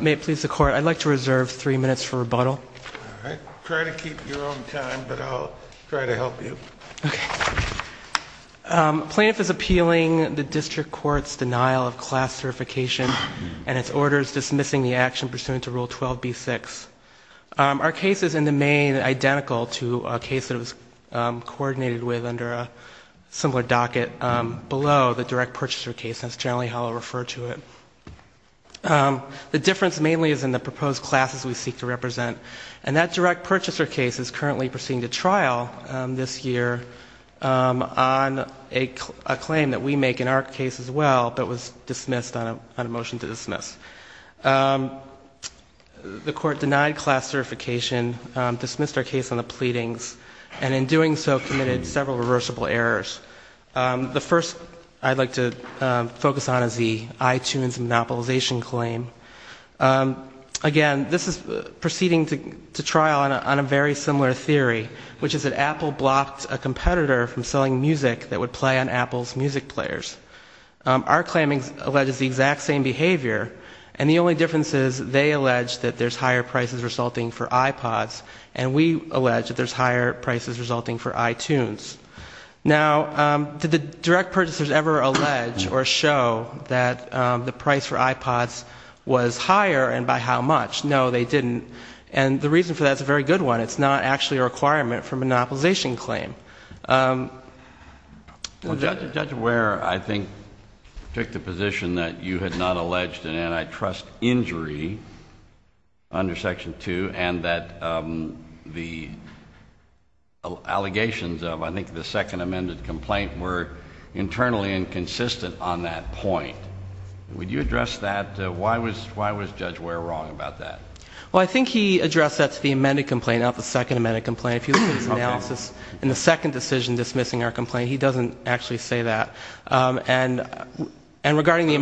May it please the Court, I'd like to reserve three minutes for rebuttal. All right. Try to keep your own time, but I'll try to help you. Okay. Plaintiff is appealing the District Court's denial of class certification and its orders dismissing the action pursuant to Rule 12b-6. Our case is in the main identical to a case that was coordinated with under a similar docket below the direct purchaser case. That's generally how I'll refer to it. The difference mainly is in the proposed classes we seek to represent, and that direct purchaser case is currently proceeding to trial this year on a claim that we make in our case as well, but was dismissed on a motion to dismiss. The Court denied class certification, dismissed our case on the pleadings, and in doing so committed several reversible errors. The first I'd like to focus on is the iTunes monopolization claim. Again, this is proceeding to trial on a very similar theory, which is that Apple blocked a competitor from selling music that would play on Apple's music players. Our claim alleges the exact same behavior, and the only difference is they allege that there's higher prices resulting for iPods, and we allege that there's higher prices resulting for iTunes. Now, did the direct purchasers ever allege or show that the price for iPods was higher and by how much? No, they didn't, and the reason for that is a very good one. It's not actually a requirement for a monopolization claim. Well, Judge Ware, I think, took the position that you had not alleged an antitrust injury under Section 2 and that the allegations of, I think, the second amended complaint were internally inconsistent on that point. Would you address that? Why was Judge Ware wrong about that? Well, I think he addressed that to the amended complaint, not the second amended complaint. If you look at his analysis in the second decision dismissing our complaint, he doesn't actually say that. And regarding the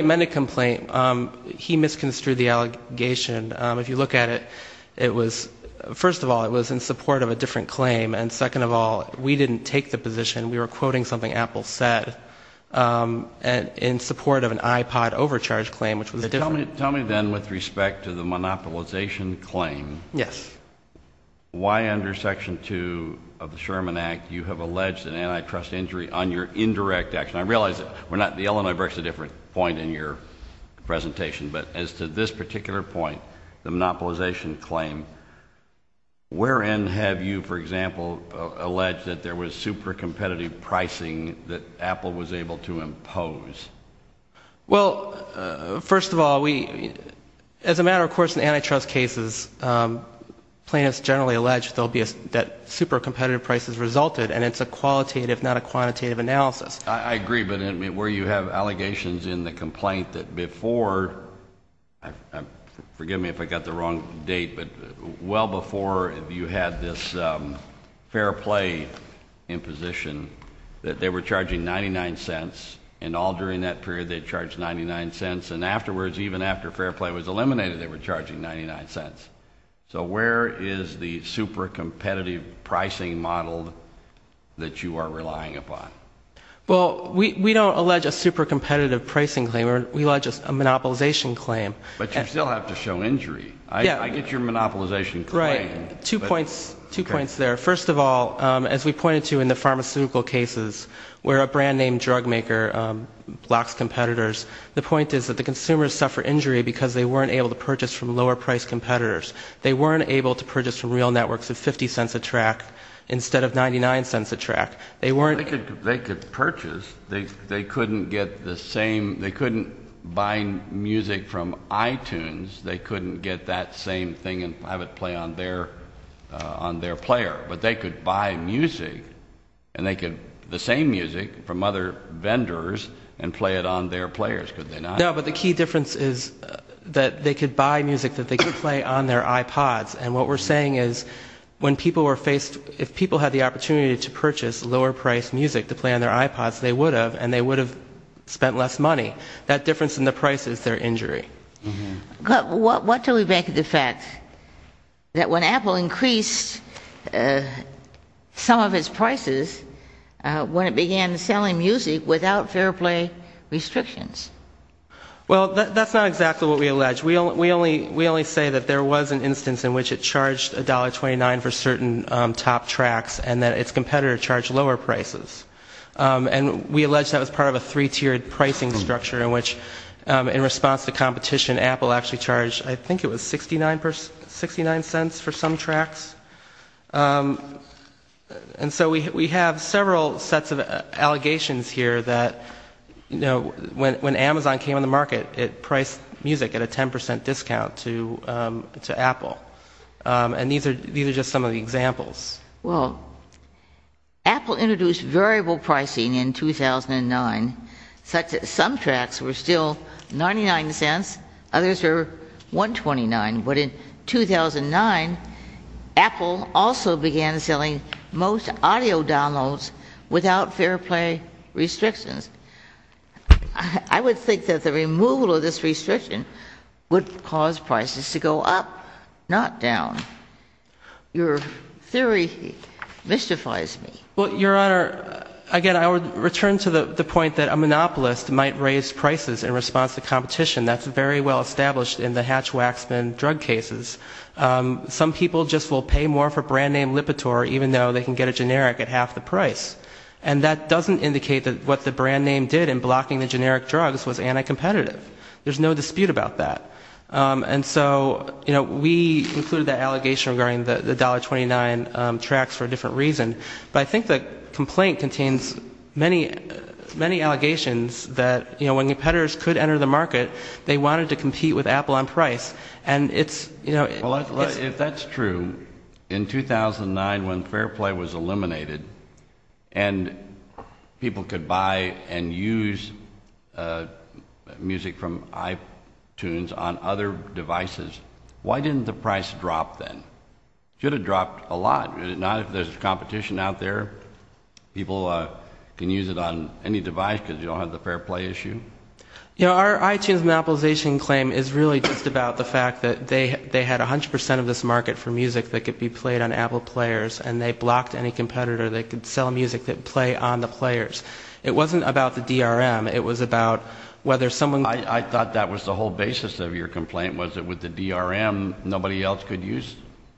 amended complaint, he misconstrued the allegation. If you look at it, first of all, it was in support of a different claim, and second of all, we didn't take the position. We were quoting something Apple said in support of an iPod overcharge claim, which was a different claim. Tell me then with respect to the monopolization claim. Yes. Why under Section 2 of the Sherman Act you have alleged an antitrust injury on your indirect action? I realize that we're not at the Illinois versus a different point in your presentation, but as to this particular point, the monopolization claim, wherein have you, for example, alleged that there was super competitive pricing that Apple was able to impose? Well, first of all, as a matter of course in antitrust cases, plaintiffs generally allege that super competitive prices resulted, and it's a qualitative, not a quantitative analysis. I agree, but where you have allegations in the complaint that before, forgive me if I got the wrong date, but well before you had this Fair Play imposition that they were charging 99 cents, and all during that period they charged 99 cents, and afterwards, even after Fair Play was eliminated, they were charging 99 cents. So where is the super competitive pricing model that you are relying upon? Well, we don't allege a super competitive pricing claim. We allege a monopolization claim. But you still have to show injury. I get your monopolization claim. Right. Two points there. First of all, as we pointed to in the pharmaceutical cases, where a brand name drug maker blocks competitors, the point is that the consumers suffer injury because they weren't able to purchase from lower priced competitors. They weren't able to purchase from real networks at 50 cents a track instead of 99 cents a track. They could purchase. They couldn't buy music from iTunes. They couldn't get that same thing and have it play on their player. But they could buy music, the same music from other vendors, and play it on their players, could they not? No, but the key difference is that they could buy music that they could play on their iPods. And what we're saying is if people had the opportunity to purchase lower priced music to play on their iPods, they would have, and they would have spent less money. That difference in the price is their injury. But what do we make of the fact that when Apple increased some of its prices, when it began selling music without fair play restrictions? Well, that's not exactly what we allege. We only say that there was an instance in which it charged $1.29 for certain top tracks and that its competitor charged lower prices. And we allege that was part of a three-tiered pricing structure in which in response to competition, Apple actually charged, I think it was 69 cents for some tracks. And so we have several sets of allegations here that, you know, when Amazon came on the market, it priced music at a 10% discount to Apple. And these are just some of the examples. Well, Apple introduced variable pricing in 2009. Some tracks were still 99 cents. Others were $1.29. But in 2009, Apple also began selling most audio downloads without fair play restrictions. I would think that the removal of this restriction would cause prices to go up, not down. Your theory mystifies me. Well, Your Honor, again, I would return to the point that a monopolist might raise prices in response to competition. That's very well established in the Hatch-Waxman drug cases. Some people just will pay more for brand name Lipitor even though they can get a generic at half the price. And that doesn't indicate that what the brand name did in blocking the generic drugs was anti-competitive. There's no dispute about that. And so, you know, we included that allegation regarding the $1.29 tracks for a different reason. But I think the complaint contains many allegations that, you know, when competitors could enter the market, they wanted to compete with Apple on price. Well, if that's true, in 2009 when fair play was eliminated and people could buy and use music from iTunes on other devices, why didn't the price drop then? It should have dropped a lot. There's competition out there. People can use it on any device because you don't have the fair play issue. You know, our iTunes monopolization claim is really just about the fact that they had 100 percent of this market for music that could be played on Apple players, and they blocked any competitor that could sell music that would play on the players. It wasn't about the DRM. It was about whether someone – I thought that was the whole basis of your complaint was that with the DRM, nobody else could use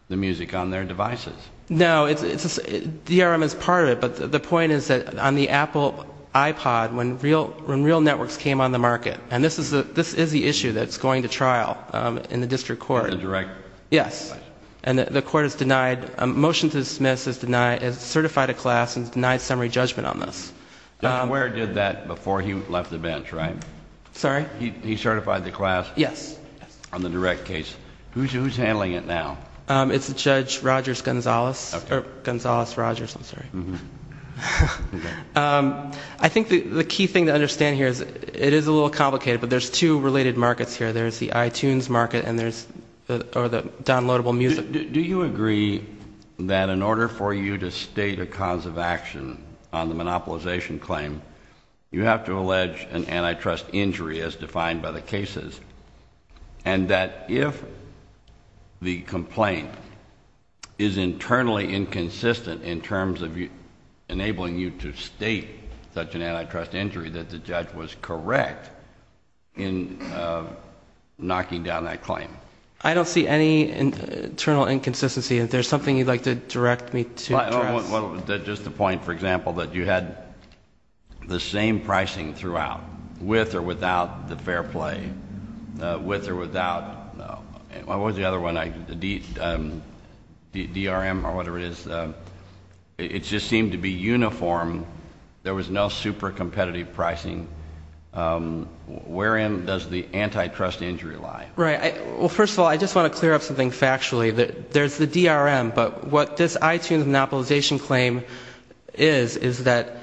the music on their devices. No, DRM is part of it, but the point is that on the Apple iPod, when real networks came on the market, and this is the issue that's going to trial in the district court. In the direct case? Yes. And the court has denied – a motion to dismiss has certified a class and has denied summary judgment on this. Judge Ware did that before he left the bench, right? Sorry? He certified the class? Yes. On the direct case. Who's handling it now? It's Judge Rogers-Gonzalez – or Gonzalez-Rogers, I'm sorry. I think the key thing to understand here is it is a little complicated, but there's two related markets here. There's the iTunes market and there's – or the downloadable music. Do you agree that in order for you to state a cause of action on the monopolization claim, you have to allege an antitrust injury as defined by the cases, and that if the complaint is internally inconsistent in terms of enabling you to state such an antitrust injury, that the judge was correct in knocking down that claim? I don't see any internal inconsistency. Is there something you'd like to direct me to address? Just a point. For example, that you had the same pricing throughout, with or without the fair play, with or without – what was the other one? DRM or whatever it is. It just seemed to be uniform. There was no super competitive pricing. Wherein does the antitrust injury lie? Right. Well, first of all, I just want to clear up something factually. There's the DRM, but what this iTunes monopolization claim is, is that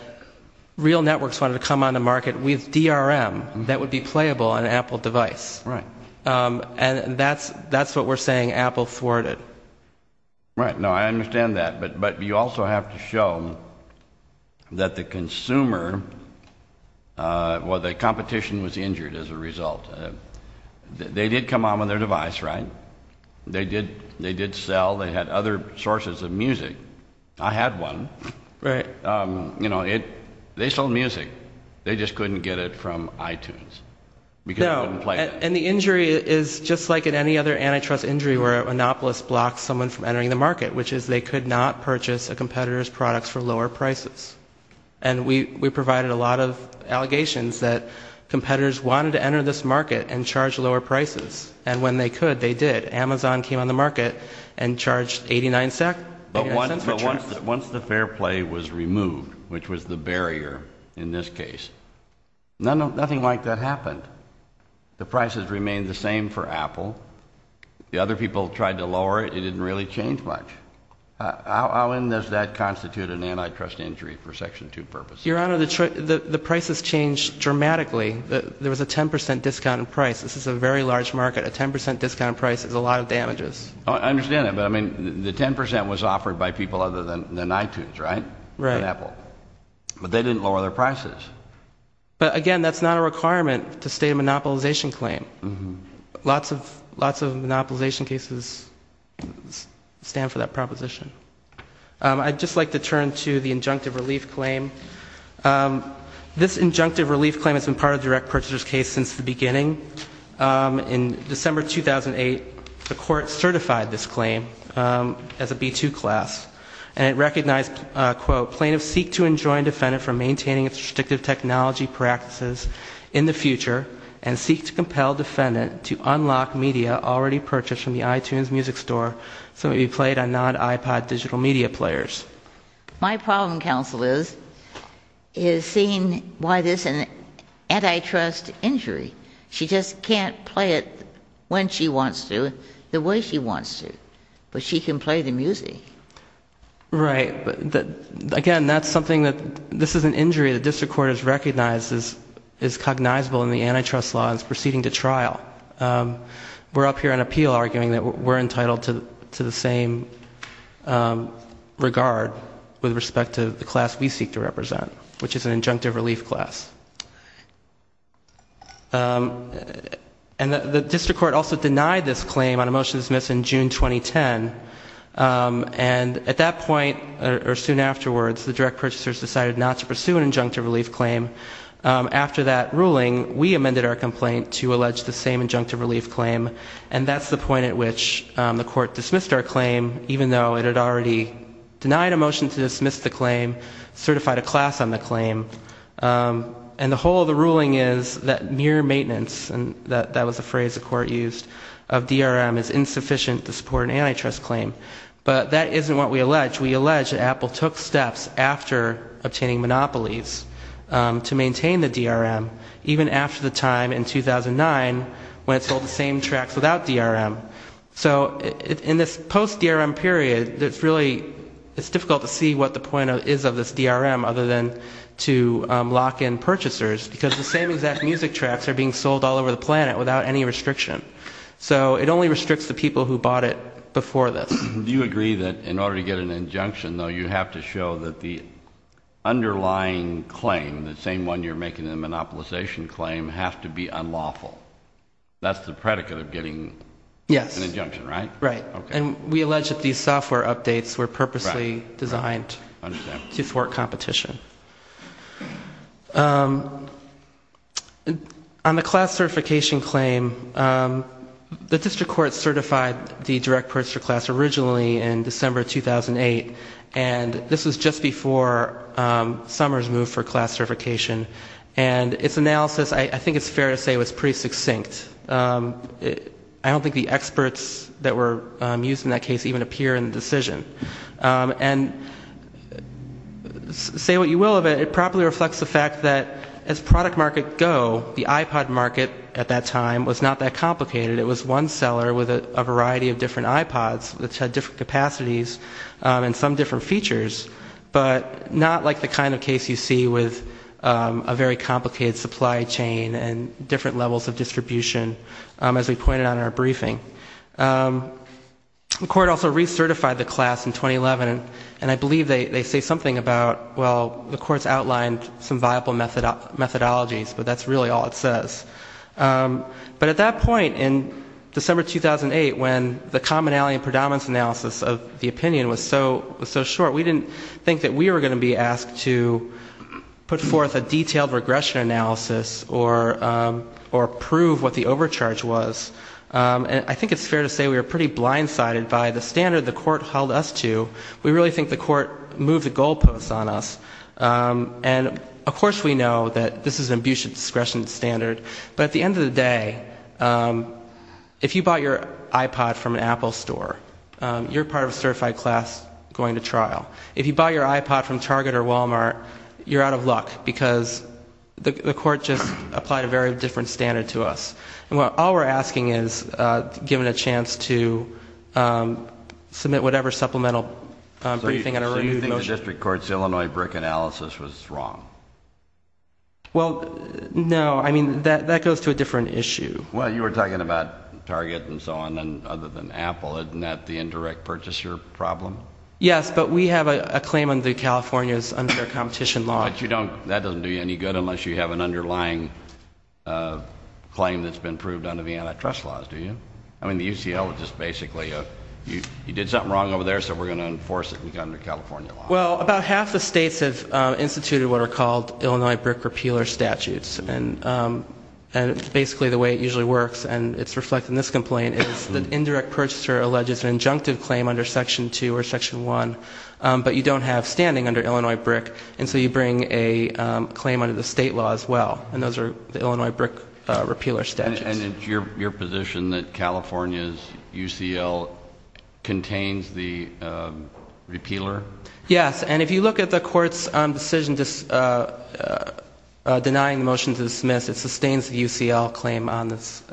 real networks wanted to come on the market with DRM that would be playable on an Apple device. Right. And that's what we're saying Apple thwarted. Right. No, I understand that. But you also have to show that the consumer – well, the competition was injured as a result. They did come on with their device, right? They did sell. They had other sources of music. I had one. Right. You know, they sold music. They just couldn't get it from iTunes because it wouldn't play. And the injury is just like in any other antitrust injury where a monopolist blocks someone from entering the market, which is they could not purchase a competitor's products for lower prices. And we provided a lot of allegations that competitors wanted to enter this market and charge lower prices. And when they could, they did. Amazon came on the market and charged $0.89. But once the fair play was removed, which was the barrier in this case, nothing like that happened. The prices remained the same for Apple. The other people tried to lower it. It didn't really change much. How then does that constitute an antitrust injury for Section 2 purposes? Your Honor, the prices changed dramatically. There was a 10 percent discount in price. This is a very large market. A 10 percent discount in price is a lot of damages. I understand that. But, I mean, the 10 percent was offered by people other than iTunes, right? Right. And Apple. But they didn't lower their prices. But, again, that's not a requirement to state a monopolization claim. Lots of monopolization cases stand for that proposition. I'd just like to turn to the injunctive relief claim. This injunctive relief claim has been part of the direct purchaser's case since the beginning. In December 2008, the court certified this claim as a B-2 class. And it recognized, quote, plaintiffs seek to enjoin defendant from maintaining its restrictive technology practices in the future and seek to compel defendant to unlock media already purchased from the iTunes music store so it would be played on non-iPod digital media players. My problem, counsel, is seeing why this is an antitrust injury. She just can't play it when she wants to, the way she wants to. But she can play the music. Right. But, again, that's something that this is an injury the district court has recognized is cognizable in the antitrust law and is proceeding to trial. We're up here on appeal arguing that we're entitled to the same regard with respect to the class we seek to represent, which is an injunctive relief class. And the district court also denied this claim on a motion to dismiss in June 2010. And at that point, or soon afterwards, the direct purchasers decided not to pursue an injunctive relief claim. After that ruling, we amended our complaint to allege the same injunctive relief claim, and that's the point at which the court dismissed our claim, even though it had already denied a motion to dismiss the claim, certified a class on the claim, and the whole of the ruling is that mere maintenance, and that was the phrase the court used, of DRM is insufficient to support an antitrust claim. But that isn't what we allege. We allege that Apple took steps after obtaining monopolies to maintain the DRM, even after the time in 2009 when it sold the same tracks without DRM. So in this post-DRM period, it's really difficult to see what the point is of this DRM other than to lock in purchasers, because the same exact music tracks are being sold all over the planet without any restriction. So it only restricts the people who bought it before this. Do you agree that in order to get an injunction, though, you have to show that the underlying claim, the same one you're making in the monopolization claim, has to be unlawful? That's the predicate of getting an injunction, right? Yes. Right. And we allege that these software updates were purposely designed to thwart competition. On the class certification claim, the district court certified the direct purchaser class originally in December 2008, and this was just before Summers moved for class certification. And its analysis, I think it's fair to say, was pretty succinct. I don't think the experts that were used in that case even appear in the decision. And say what you will of it, it probably reflects the fact that as product market go, the iPod market at that time was not that complicated. It was one seller with a variety of different iPods that had different capacities and some different features, but not like the kind of case you see with a very complicated supply chain and different levels of distribution, as we pointed out in our briefing. The court also recertified the class in 2011, and I believe they say something about, well, the court's outlined some viable methodologies, but that's really all it says. But at that point in December 2008, when the commonality and predominance analysis of the opinion was so short, we didn't think that we were going to be asked to put forth a detailed regression analysis or prove what the overcharge was. And I think it's fair to say we were pretty blindsided by the standard the court held us to. We really think the court moved the goalposts on us. And of course we know that this is an abuse of discretion standard, but at the end of the day, if you bought your iPod from an Apple store, you're part of a certified class going to trial. If you bought your iPod from Target or Walmart, you're out of luck, because the court just applied a very different standard to us. All we're asking is to give it a chance to submit whatever supplemental briefing. So you think the district court's Illinois BRIC analysis was wrong? Well, no. I mean, that goes to a different issue. Well, you were talking about Target and so on, other than Apple. Isn't that the indirect purchaser problem? Yes, but we have a claim under California's unfair competition law. But that doesn't do you any good unless you have an underlying claim that's been proved under the antitrust laws, do you? I mean, the UCL is just basically, you did something wrong over there, so we're going to enforce it under California law. Well, about half the states have instituted what are called Illinois BRIC repealer statutes, and basically the way it usually works, and it's reflected in this complaint, is the indirect purchaser alleges an injunctive claim under Section 2 or Section 1, but you don't have standing under Illinois BRIC, and so you bring a claim under the state law as well, and those are the Illinois BRIC repealer statutes. And it's your position that California's UCL contains the repealer? Yes, and if you look at the court's decision denying the motion to dismiss, it sustains the UCL claim on this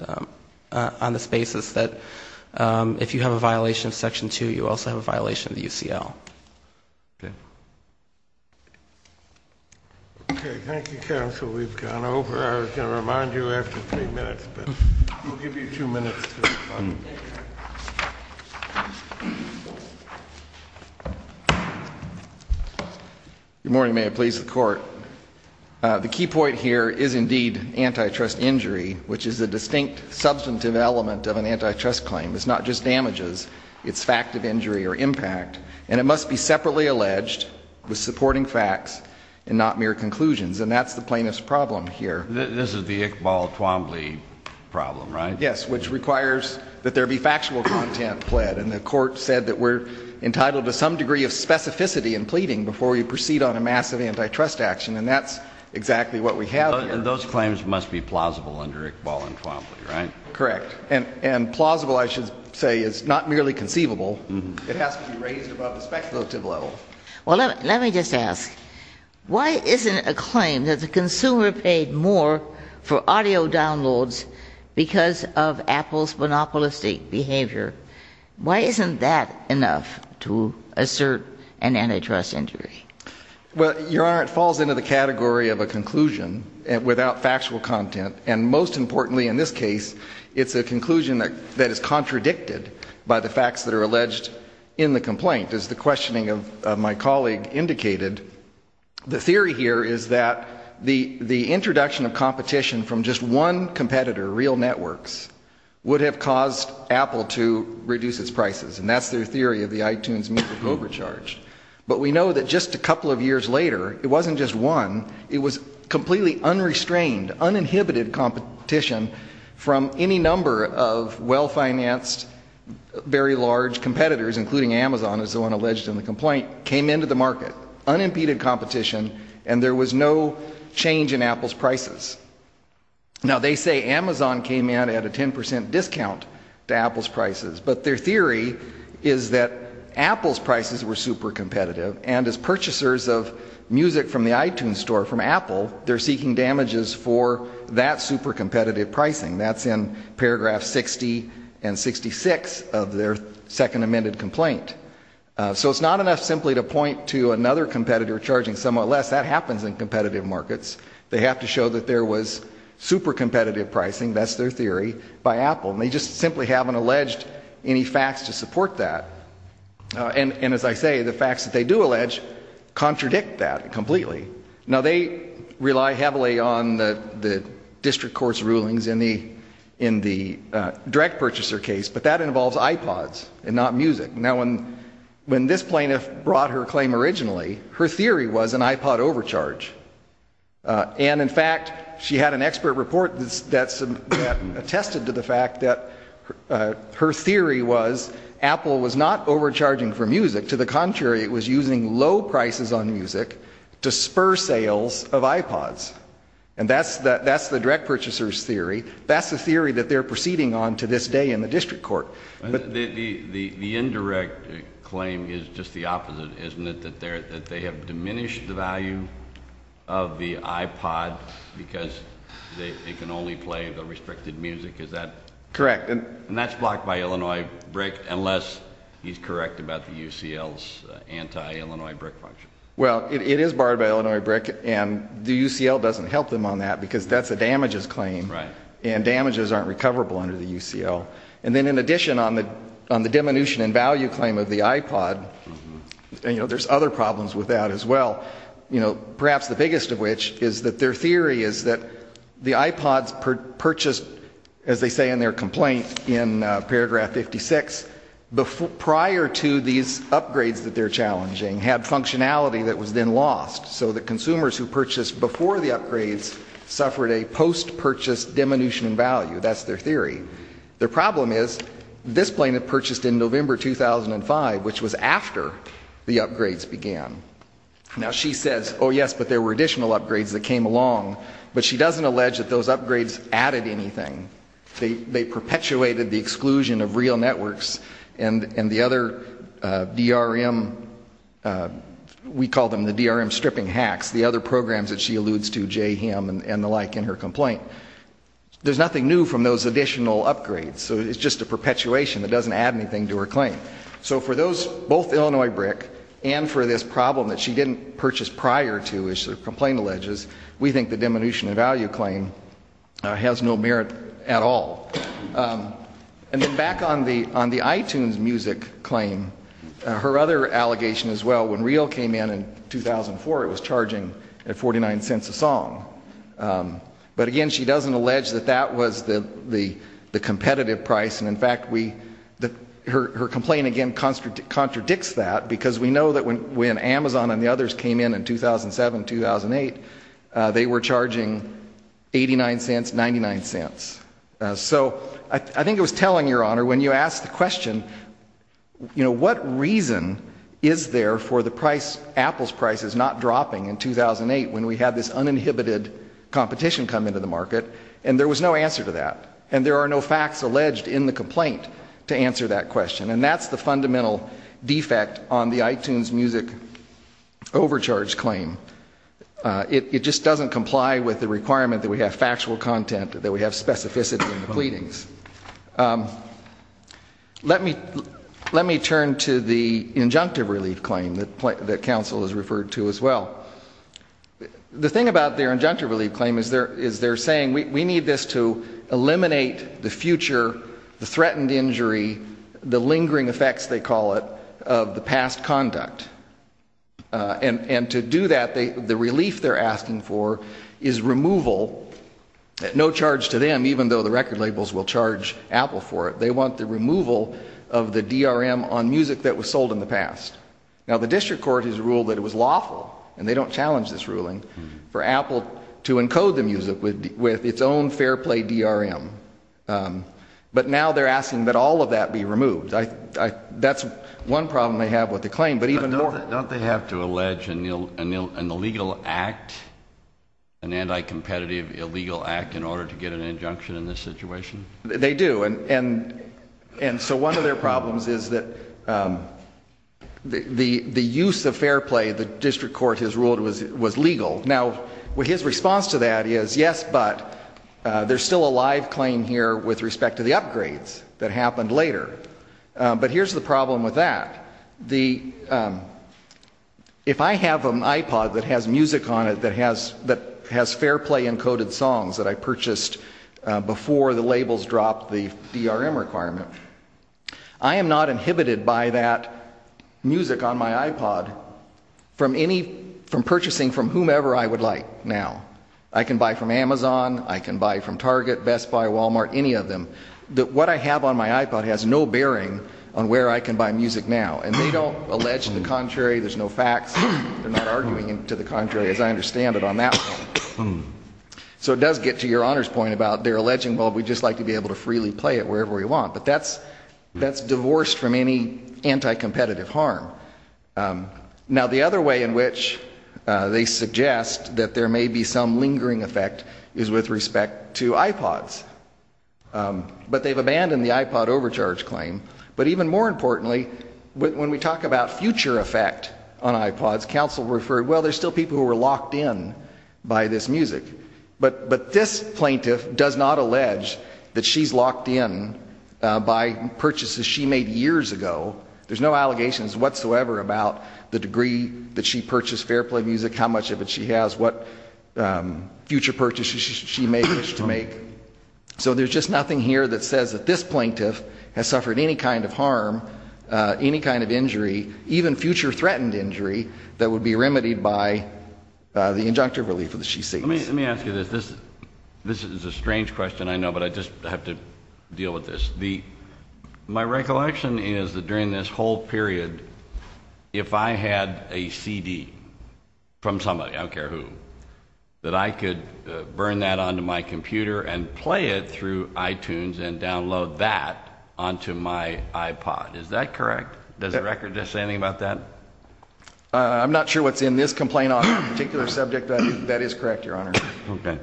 basis that if you have a violation of Section 2, you also have a violation of the UCL. Okay. Okay, thank you, counsel. We've gone over. I was going to remind you after three minutes, but we'll give you two minutes to respond. Good morning. May it please the Court. The key point here is indeed antitrust injury, which is a distinct substantive element of an antitrust claim. It's not just damages. It's fact of injury or impact, and it must be separately alleged with supporting facts and not mere conclusions, and that's the plaintiff's problem here. This is the Iqbal Twombly problem, right? Yes, which requires that there be factual content pled, and the court said that we're entitled to some degree of specificity in pleading before we proceed on a massive antitrust action, and that's exactly what we have here. And those claims must be plausible under Iqbal and Twombly, right? Correct, and plausible, I should say, is not merely conceivable. It has to be raised above the speculative level. Well, let me just ask, why isn't it a claim that the consumer paid more for audio downloads because of Apple's monopolistic behavior? Why isn't that enough to assert an antitrust injury? Well, Your Honor, it falls into the category of a conclusion without factual content, and most importantly in this case, it's a conclusion that is contradicted by the facts that are alleged in the complaint. As the questioning of my colleague indicated, the theory here is that the introduction of competition from just one competitor, real networks, would have caused Apple to reduce its prices, and that's their theory of the iTunes music overcharge. But we know that just a couple of years later, it wasn't just one, it was completely unrestrained, uninhibited competition from any number of well-financed, very large competitors, including Amazon, as the one alleged in the complaint, came into the market, unimpeded competition, and there was no change in Apple's prices. Now, they say Amazon came in at a 10% discount to Apple's prices, but their theory is that Apple's prices were super competitive, and as purchasers of music from the iTunes store from Apple, they're seeking damages for that super competitive pricing. That's in paragraph 60 and 66 of their second amended complaint. So it's not enough simply to point to another competitor charging somewhat less, that happens in competitive markets. They have to show that there was super competitive pricing, that's their theory, by Apple, and they just simply haven't alleged any facts to support that. And as I say, the facts that they do allege contradict that completely. Now, they rely heavily on the district court's rulings in the direct purchaser case, but that involves iPods and not music. Now, when this plaintiff brought her claim originally, her theory was an iPod overcharge. And in fact, she had an expert report that attested to the fact that her theory was Apple was not overcharging for music. To the contrary, it was using low prices on music to spur sales of iPods. And that's the direct purchaser's theory. That's the theory that they're proceeding on to this day in the district court. The indirect claim is just the opposite, isn't it? That they have diminished the value of the iPod because they can only play the restricted music, is that? Correct. And that's blocked by Illinois BRIC, unless he's correct about the UCL's anti-Illinois BRIC function. Well, it is barred by Illinois BRIC, and the UCL doesn't help them on that because that's a damages claim. Right. And damages aren't recoverable under the UCL. And then in addition, on the diminution in value claim of the iPod, there's other problems with that as well. Perhaps the biggest of which is that their theory is that the iPods purchased, as they say in their complaint in paragraph 56, prior to these upgrades that they're challenging, had functionality that was then lost. So the consumers who purchased before the upgrades suffered a post-purchase diminution in value. That's their theory. Their problem is, this planet purchased in November 2005, which was after the upgrades began. Now she says, oh yes, but there were additional upgrades that came along. But she doesn't allege that those upgrades added anything. They perpetuated the exclusion of real networks and the other DRM, we call them the DRM stripping hacks, the other programs that she alludes to, JHIM and the like in her complaint. There's nothing new from those additional upgrades. So it's just a perpetuation that doesn't add anything to her claim. So for those, both Illinois BRIC and for this problem that she didn't purchase prior to, as her complaint alleges, we think the diminution in value claim has no merit at all. And then back on the iTunes music claim, her other allegation as well, when Reel came in in 2004, it was charging 49 cents a song. But again, she doesn't allege that that was the competitive price. And in fact, her complaint again contradicts that, because we know that when Amazon and the others came in in 2007, 2008, they were charging 89 cents, 99 cents. So I think it was telling, Your Honor, when you asked the question, you know, what reason is there for the price, Apple's price is not dropping in 2008 when we have this uninhibited competition come into the market? And there was no answer to that. And there are no facts alleged in the complaint to answer that question. And that's the fundamental defect on the iTunes music overcharge claim. It just doesn't comply with the requirement that we have factual content, that we have specificity in the pleadings. Let me turn to the injunctive relief claim that counsel has referred to as well. The thing about their injunctive relief claim is they're saying we need this to eliminate the future, the threatened injury, the lingering effects, they call it, of the past conduct. And to do that, the relief they're asking for is removal, no charge to them, even though the record labels will charge Apple for it. They want the removal of the DRM on music that was sold in the past. Now, the district court has ruled that it was lawful, and they don't challenge this ruling, for Apple to encode the music with its own fair play DRM. But now they're asking that all of that be removed. That's one problem they have with the claim. Don't they have to allege an illegal act, an anti-competitive illegal act, in order to get an injunction in this situation? They do. And so one of their problems is that the use of fair play the district court has ruled was legal. Now, his response to that is, yes, but there's still a live claim here with respect to the upgrades that happened later. But here's the problem with that. If I have an iPod that has music on it that has fair play encoded songs that I purchased before the labels dropped the DRM requirement, I am not inhibited by that music on my iPod from purchasing from whomever I would like now. I can buy from Amazon, I can buy from Target, Best Buy, Walmart, any of them. What I have on my iPod has no bearing on where I can buy music now. And they don't allege the contrary. There's no facts. They're not arguing to the contrary, as I understand it, on that one. So it does get to your Honor's point about their alleging, well, we'd just like to be able to freely play it wherever we want. But that's divorced from any anti-competitive harm. Now, the other way in which they suggest that there may be some lingering effect is with respect to iPods. But they've abandoned the iPod overcharge claim. But even more importantly, when we talk about future effect on iPods, counsel referred, well, there's still people who are locked in by this music. But this plaintiff does not allege that she's locked in by purchases she made years ago. There's no allegations whatsoever about the degree that she purchased Fairplay music, how much of it she has, what future purchases she may wish to make. So there's just nothing here that says that this plaintiff has suffered any kind of harm, any kind of injury, even future threatened injury, that would be remedied by the injunctive relief that she seeks. Let me ask you this. This is a strange question, I know, but I just have to deal with this. My recollection is that during this whole period, if I had a CD from somebody, I don't care who, that I could burn that onto my computer and play it through iTunes and download that onto my iPod. Is that correct? Does the record say anything about that? I'm not sure what's in this complaint on that particular subject, but that is correct, Your Honor. Okay.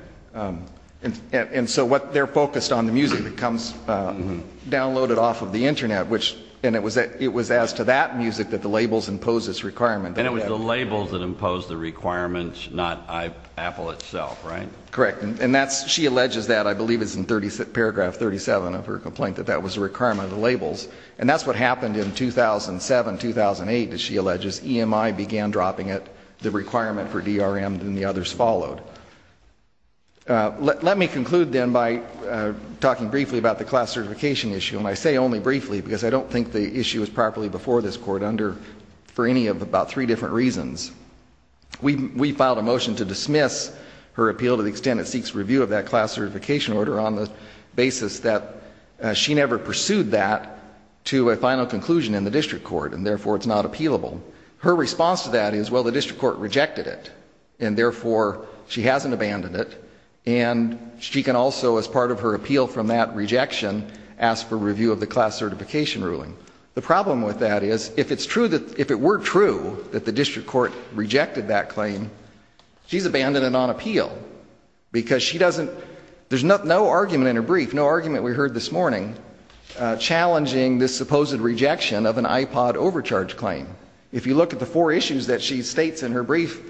And so what they're focused on, the music that comes downloaded off of the Internet, and it was as to that music that the labels impose this requirement. And it was the labels that imposed the requirements, not Apple itself, right? Correct. And she alleges that, I believe it's in paragraph 37 of her complaint, that that was a requirement of the labels. And that's what happened in 2007-2008, as she alleges. EMI began dropping it, the requirement for DRM, and the others followed. Let me conclude, then, by talking briefly about the class certification issue. And I say only briefly because I don't think the issue was properly before this Court for any of about three different reasons. We filed a motion to dismiss her appeal to the extent it seeks review of that class certification order on the basis that she never pursued that to a final conclusion in the district court, and therefore it's not appealable. Her response to that is, well, the district court rejected it, and therefore she hasn't abandoned it. And she can also, as part of her appeal from that rejection, ask for review of the class certification ruling. The problem with that is, if it's true that, if it were true that the district court rejected that claim, she's abandoned it on appeal, because she doesn't, there's no argument in her brief, no argument we heard this morning, challenging this supposed rejection of an IPOD overcharge claim. If you look at the four issues that she states in her brief,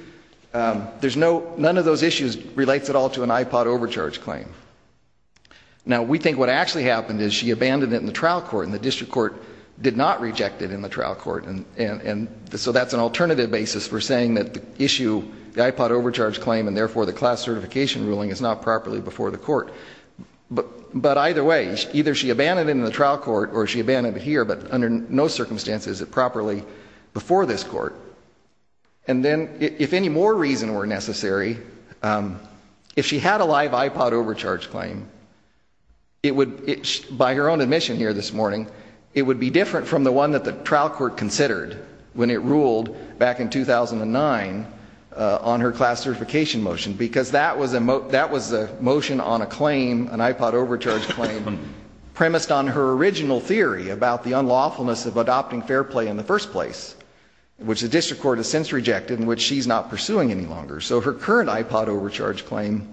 there's no, none of those issues relates at all to an IPOD overcharge claim. Now, we think what actually happened is she abandoned it in the trial court, and the district court did not reject it in the trial court, and so that's an alternative basis for saying that the issue, the IPOD overcharge claim, and therefore the class certification ruling is not properly before the court. But either way, either she abandoned it in the trial court, or she abandoned it here, but under no circumstances is it properly before this court. And then, if any more reason were necessary, if she had a live IPOD overcharge claim, it would, by her own admission here this morning, it would be different from the one that the trial court considered when it ruled back in 2009 on her class certification motion, because that was a motion on a claim, an IPOD overcharge claim, premised on her original theory about the unlawfulness of adopting fair play in the first place, which the district court has since rejected, and which she's not pursuing any longer. So her current IPOD overcharge claim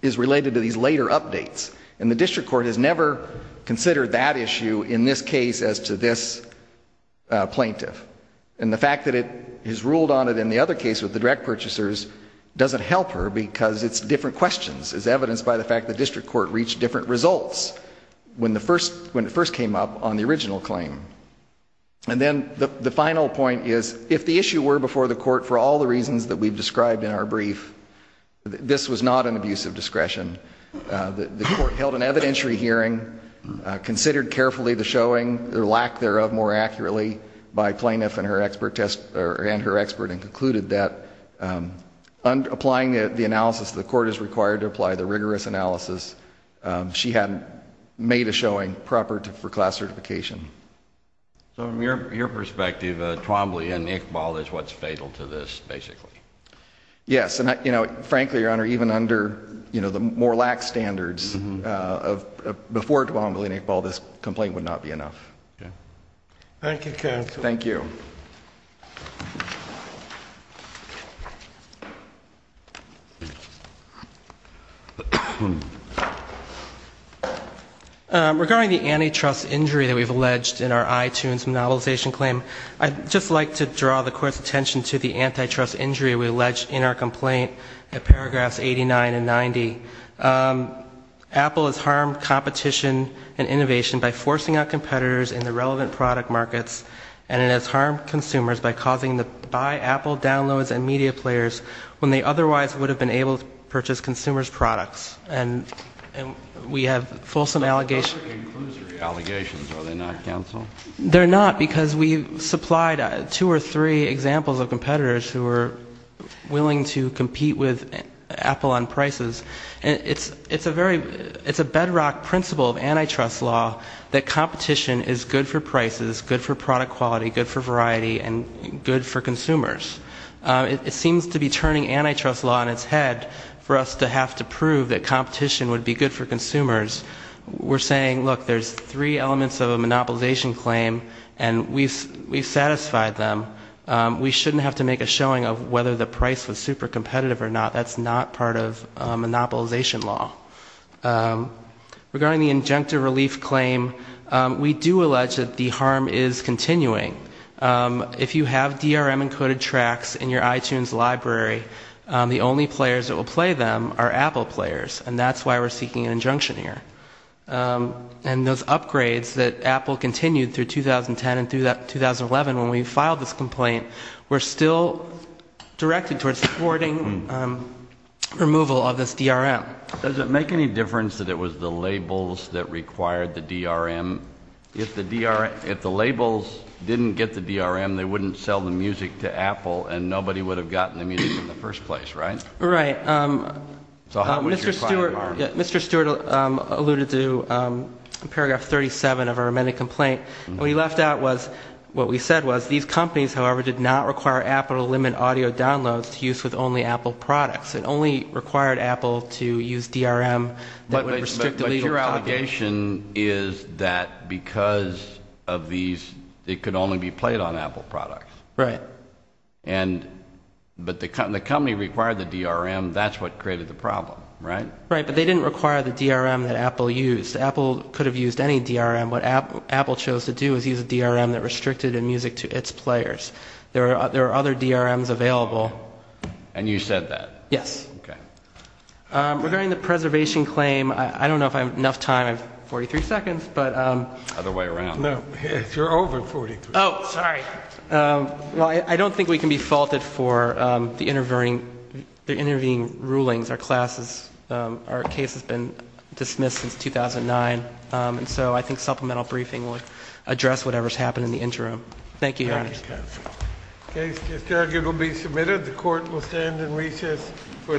is related to these later updates, and the district court has never considered that issue in this case as to this plaintiff. And the fact that it is ruled on it in the other case with the direct purchasers doesn't help her, because it's different questions, as evidenced by the fact that the district court reached different results when it first came up on the original claim. And then the final point is, if the issue were before the court for all the reasons that we've described in our brief, this was not an abuse of discretion. The court held an evidentiary hearing, considered carefully the showing, or lack thereof, more accurately, by plaintiff and her expert and concluded that, applying the analysis the court is required to apply, the rigorous analysis, she hadn't made a showing proper for class certification. So from your perspective, Twombly and Iqbal is what's fatal to this, basically? Yes, and frankly, Your Honor, even under the more lax standards before Twombly and Iqbal, this complaint would not be enough. Thank you, counsel. Thank you. Regarding the antitrust injury that we've alleged in our iTunes monopolization claim, I'd just like to draw the court's attention to the antitrust injury we allege in our complaint in paragraphs 89 and 90. Apple has harmed competition and innovation by forcing out competitors in the relevant product markets, and it has harmed consumers by causing them to buy Apple downloads and media players when they otherwise would have been able to purchase consumers' products, and we have fulsome allegations. Those are conclusory allegations, are they not, counsel? They're not, because we supplied two or three examples of competitors who were willing to compete with Apple on prices, and it's a bedrock principle of antitrust law that competition is good for prices, good for product quality, good for variety, and good for consumers. It seems to be turning antitrust law on its head for us to have to prove that competition would be good for consumers. We're saying, look, there's three elements of a monopolization claim, and we've satisfied them. We shouldn't have to make a showing of whether the price was super competitive or not. That's not part of monopolization law. Regarding the injunctive relief claim, we do allege that the harm is continuing. If you have DRM-encoded tracks in your iTunes library, the only players that will play them are Apple players, and that's why we're seeking an injunction here. And those upgrades that Apple continued through 2010 and through 2011 when we filed this complaint were still directed towards thwarting removal of this DRM. Does it make any difference that it was the labels that required the DRM? If the labels didn't get the DRM, they wouldn't sell the music to Apple, and nobody would have gotten the music in the first place, right? Right. So how much is your client harmed? Mr. Stewart alluded to paragraph 37 of our amended complaint. What he left out was what we said was, these companies, however, did not require Apple to limit audio downloads to use with only Apple products. It only required Apple to use DRM that would restrict the legal population. The limitation is that because of these, it could only be played on Apple products. Right. But the company required the DRM. That's what created the problem, right? Right, but they didn't require the DRM that Apple used. Apple could have used any DRM. What Apple chose to do was use a DRM that restricted music to its players. There are other DRMs available. And you said that? Yes. Okay. Regarding the preservation claim, I don't know if I have enough time. I have 43 seconds. Other way around. No, you're over 43. Oh, sorry. Well, I don't think we can be faulted for the intervening rulings. Our case has been dismissed since 2009, and so I think supplemental briefing would address whatever has happened in the interim. Thank you, Your Honor. Thank you, counsel. The case is submitted. It will be submitted. The court will stand in recess for the day.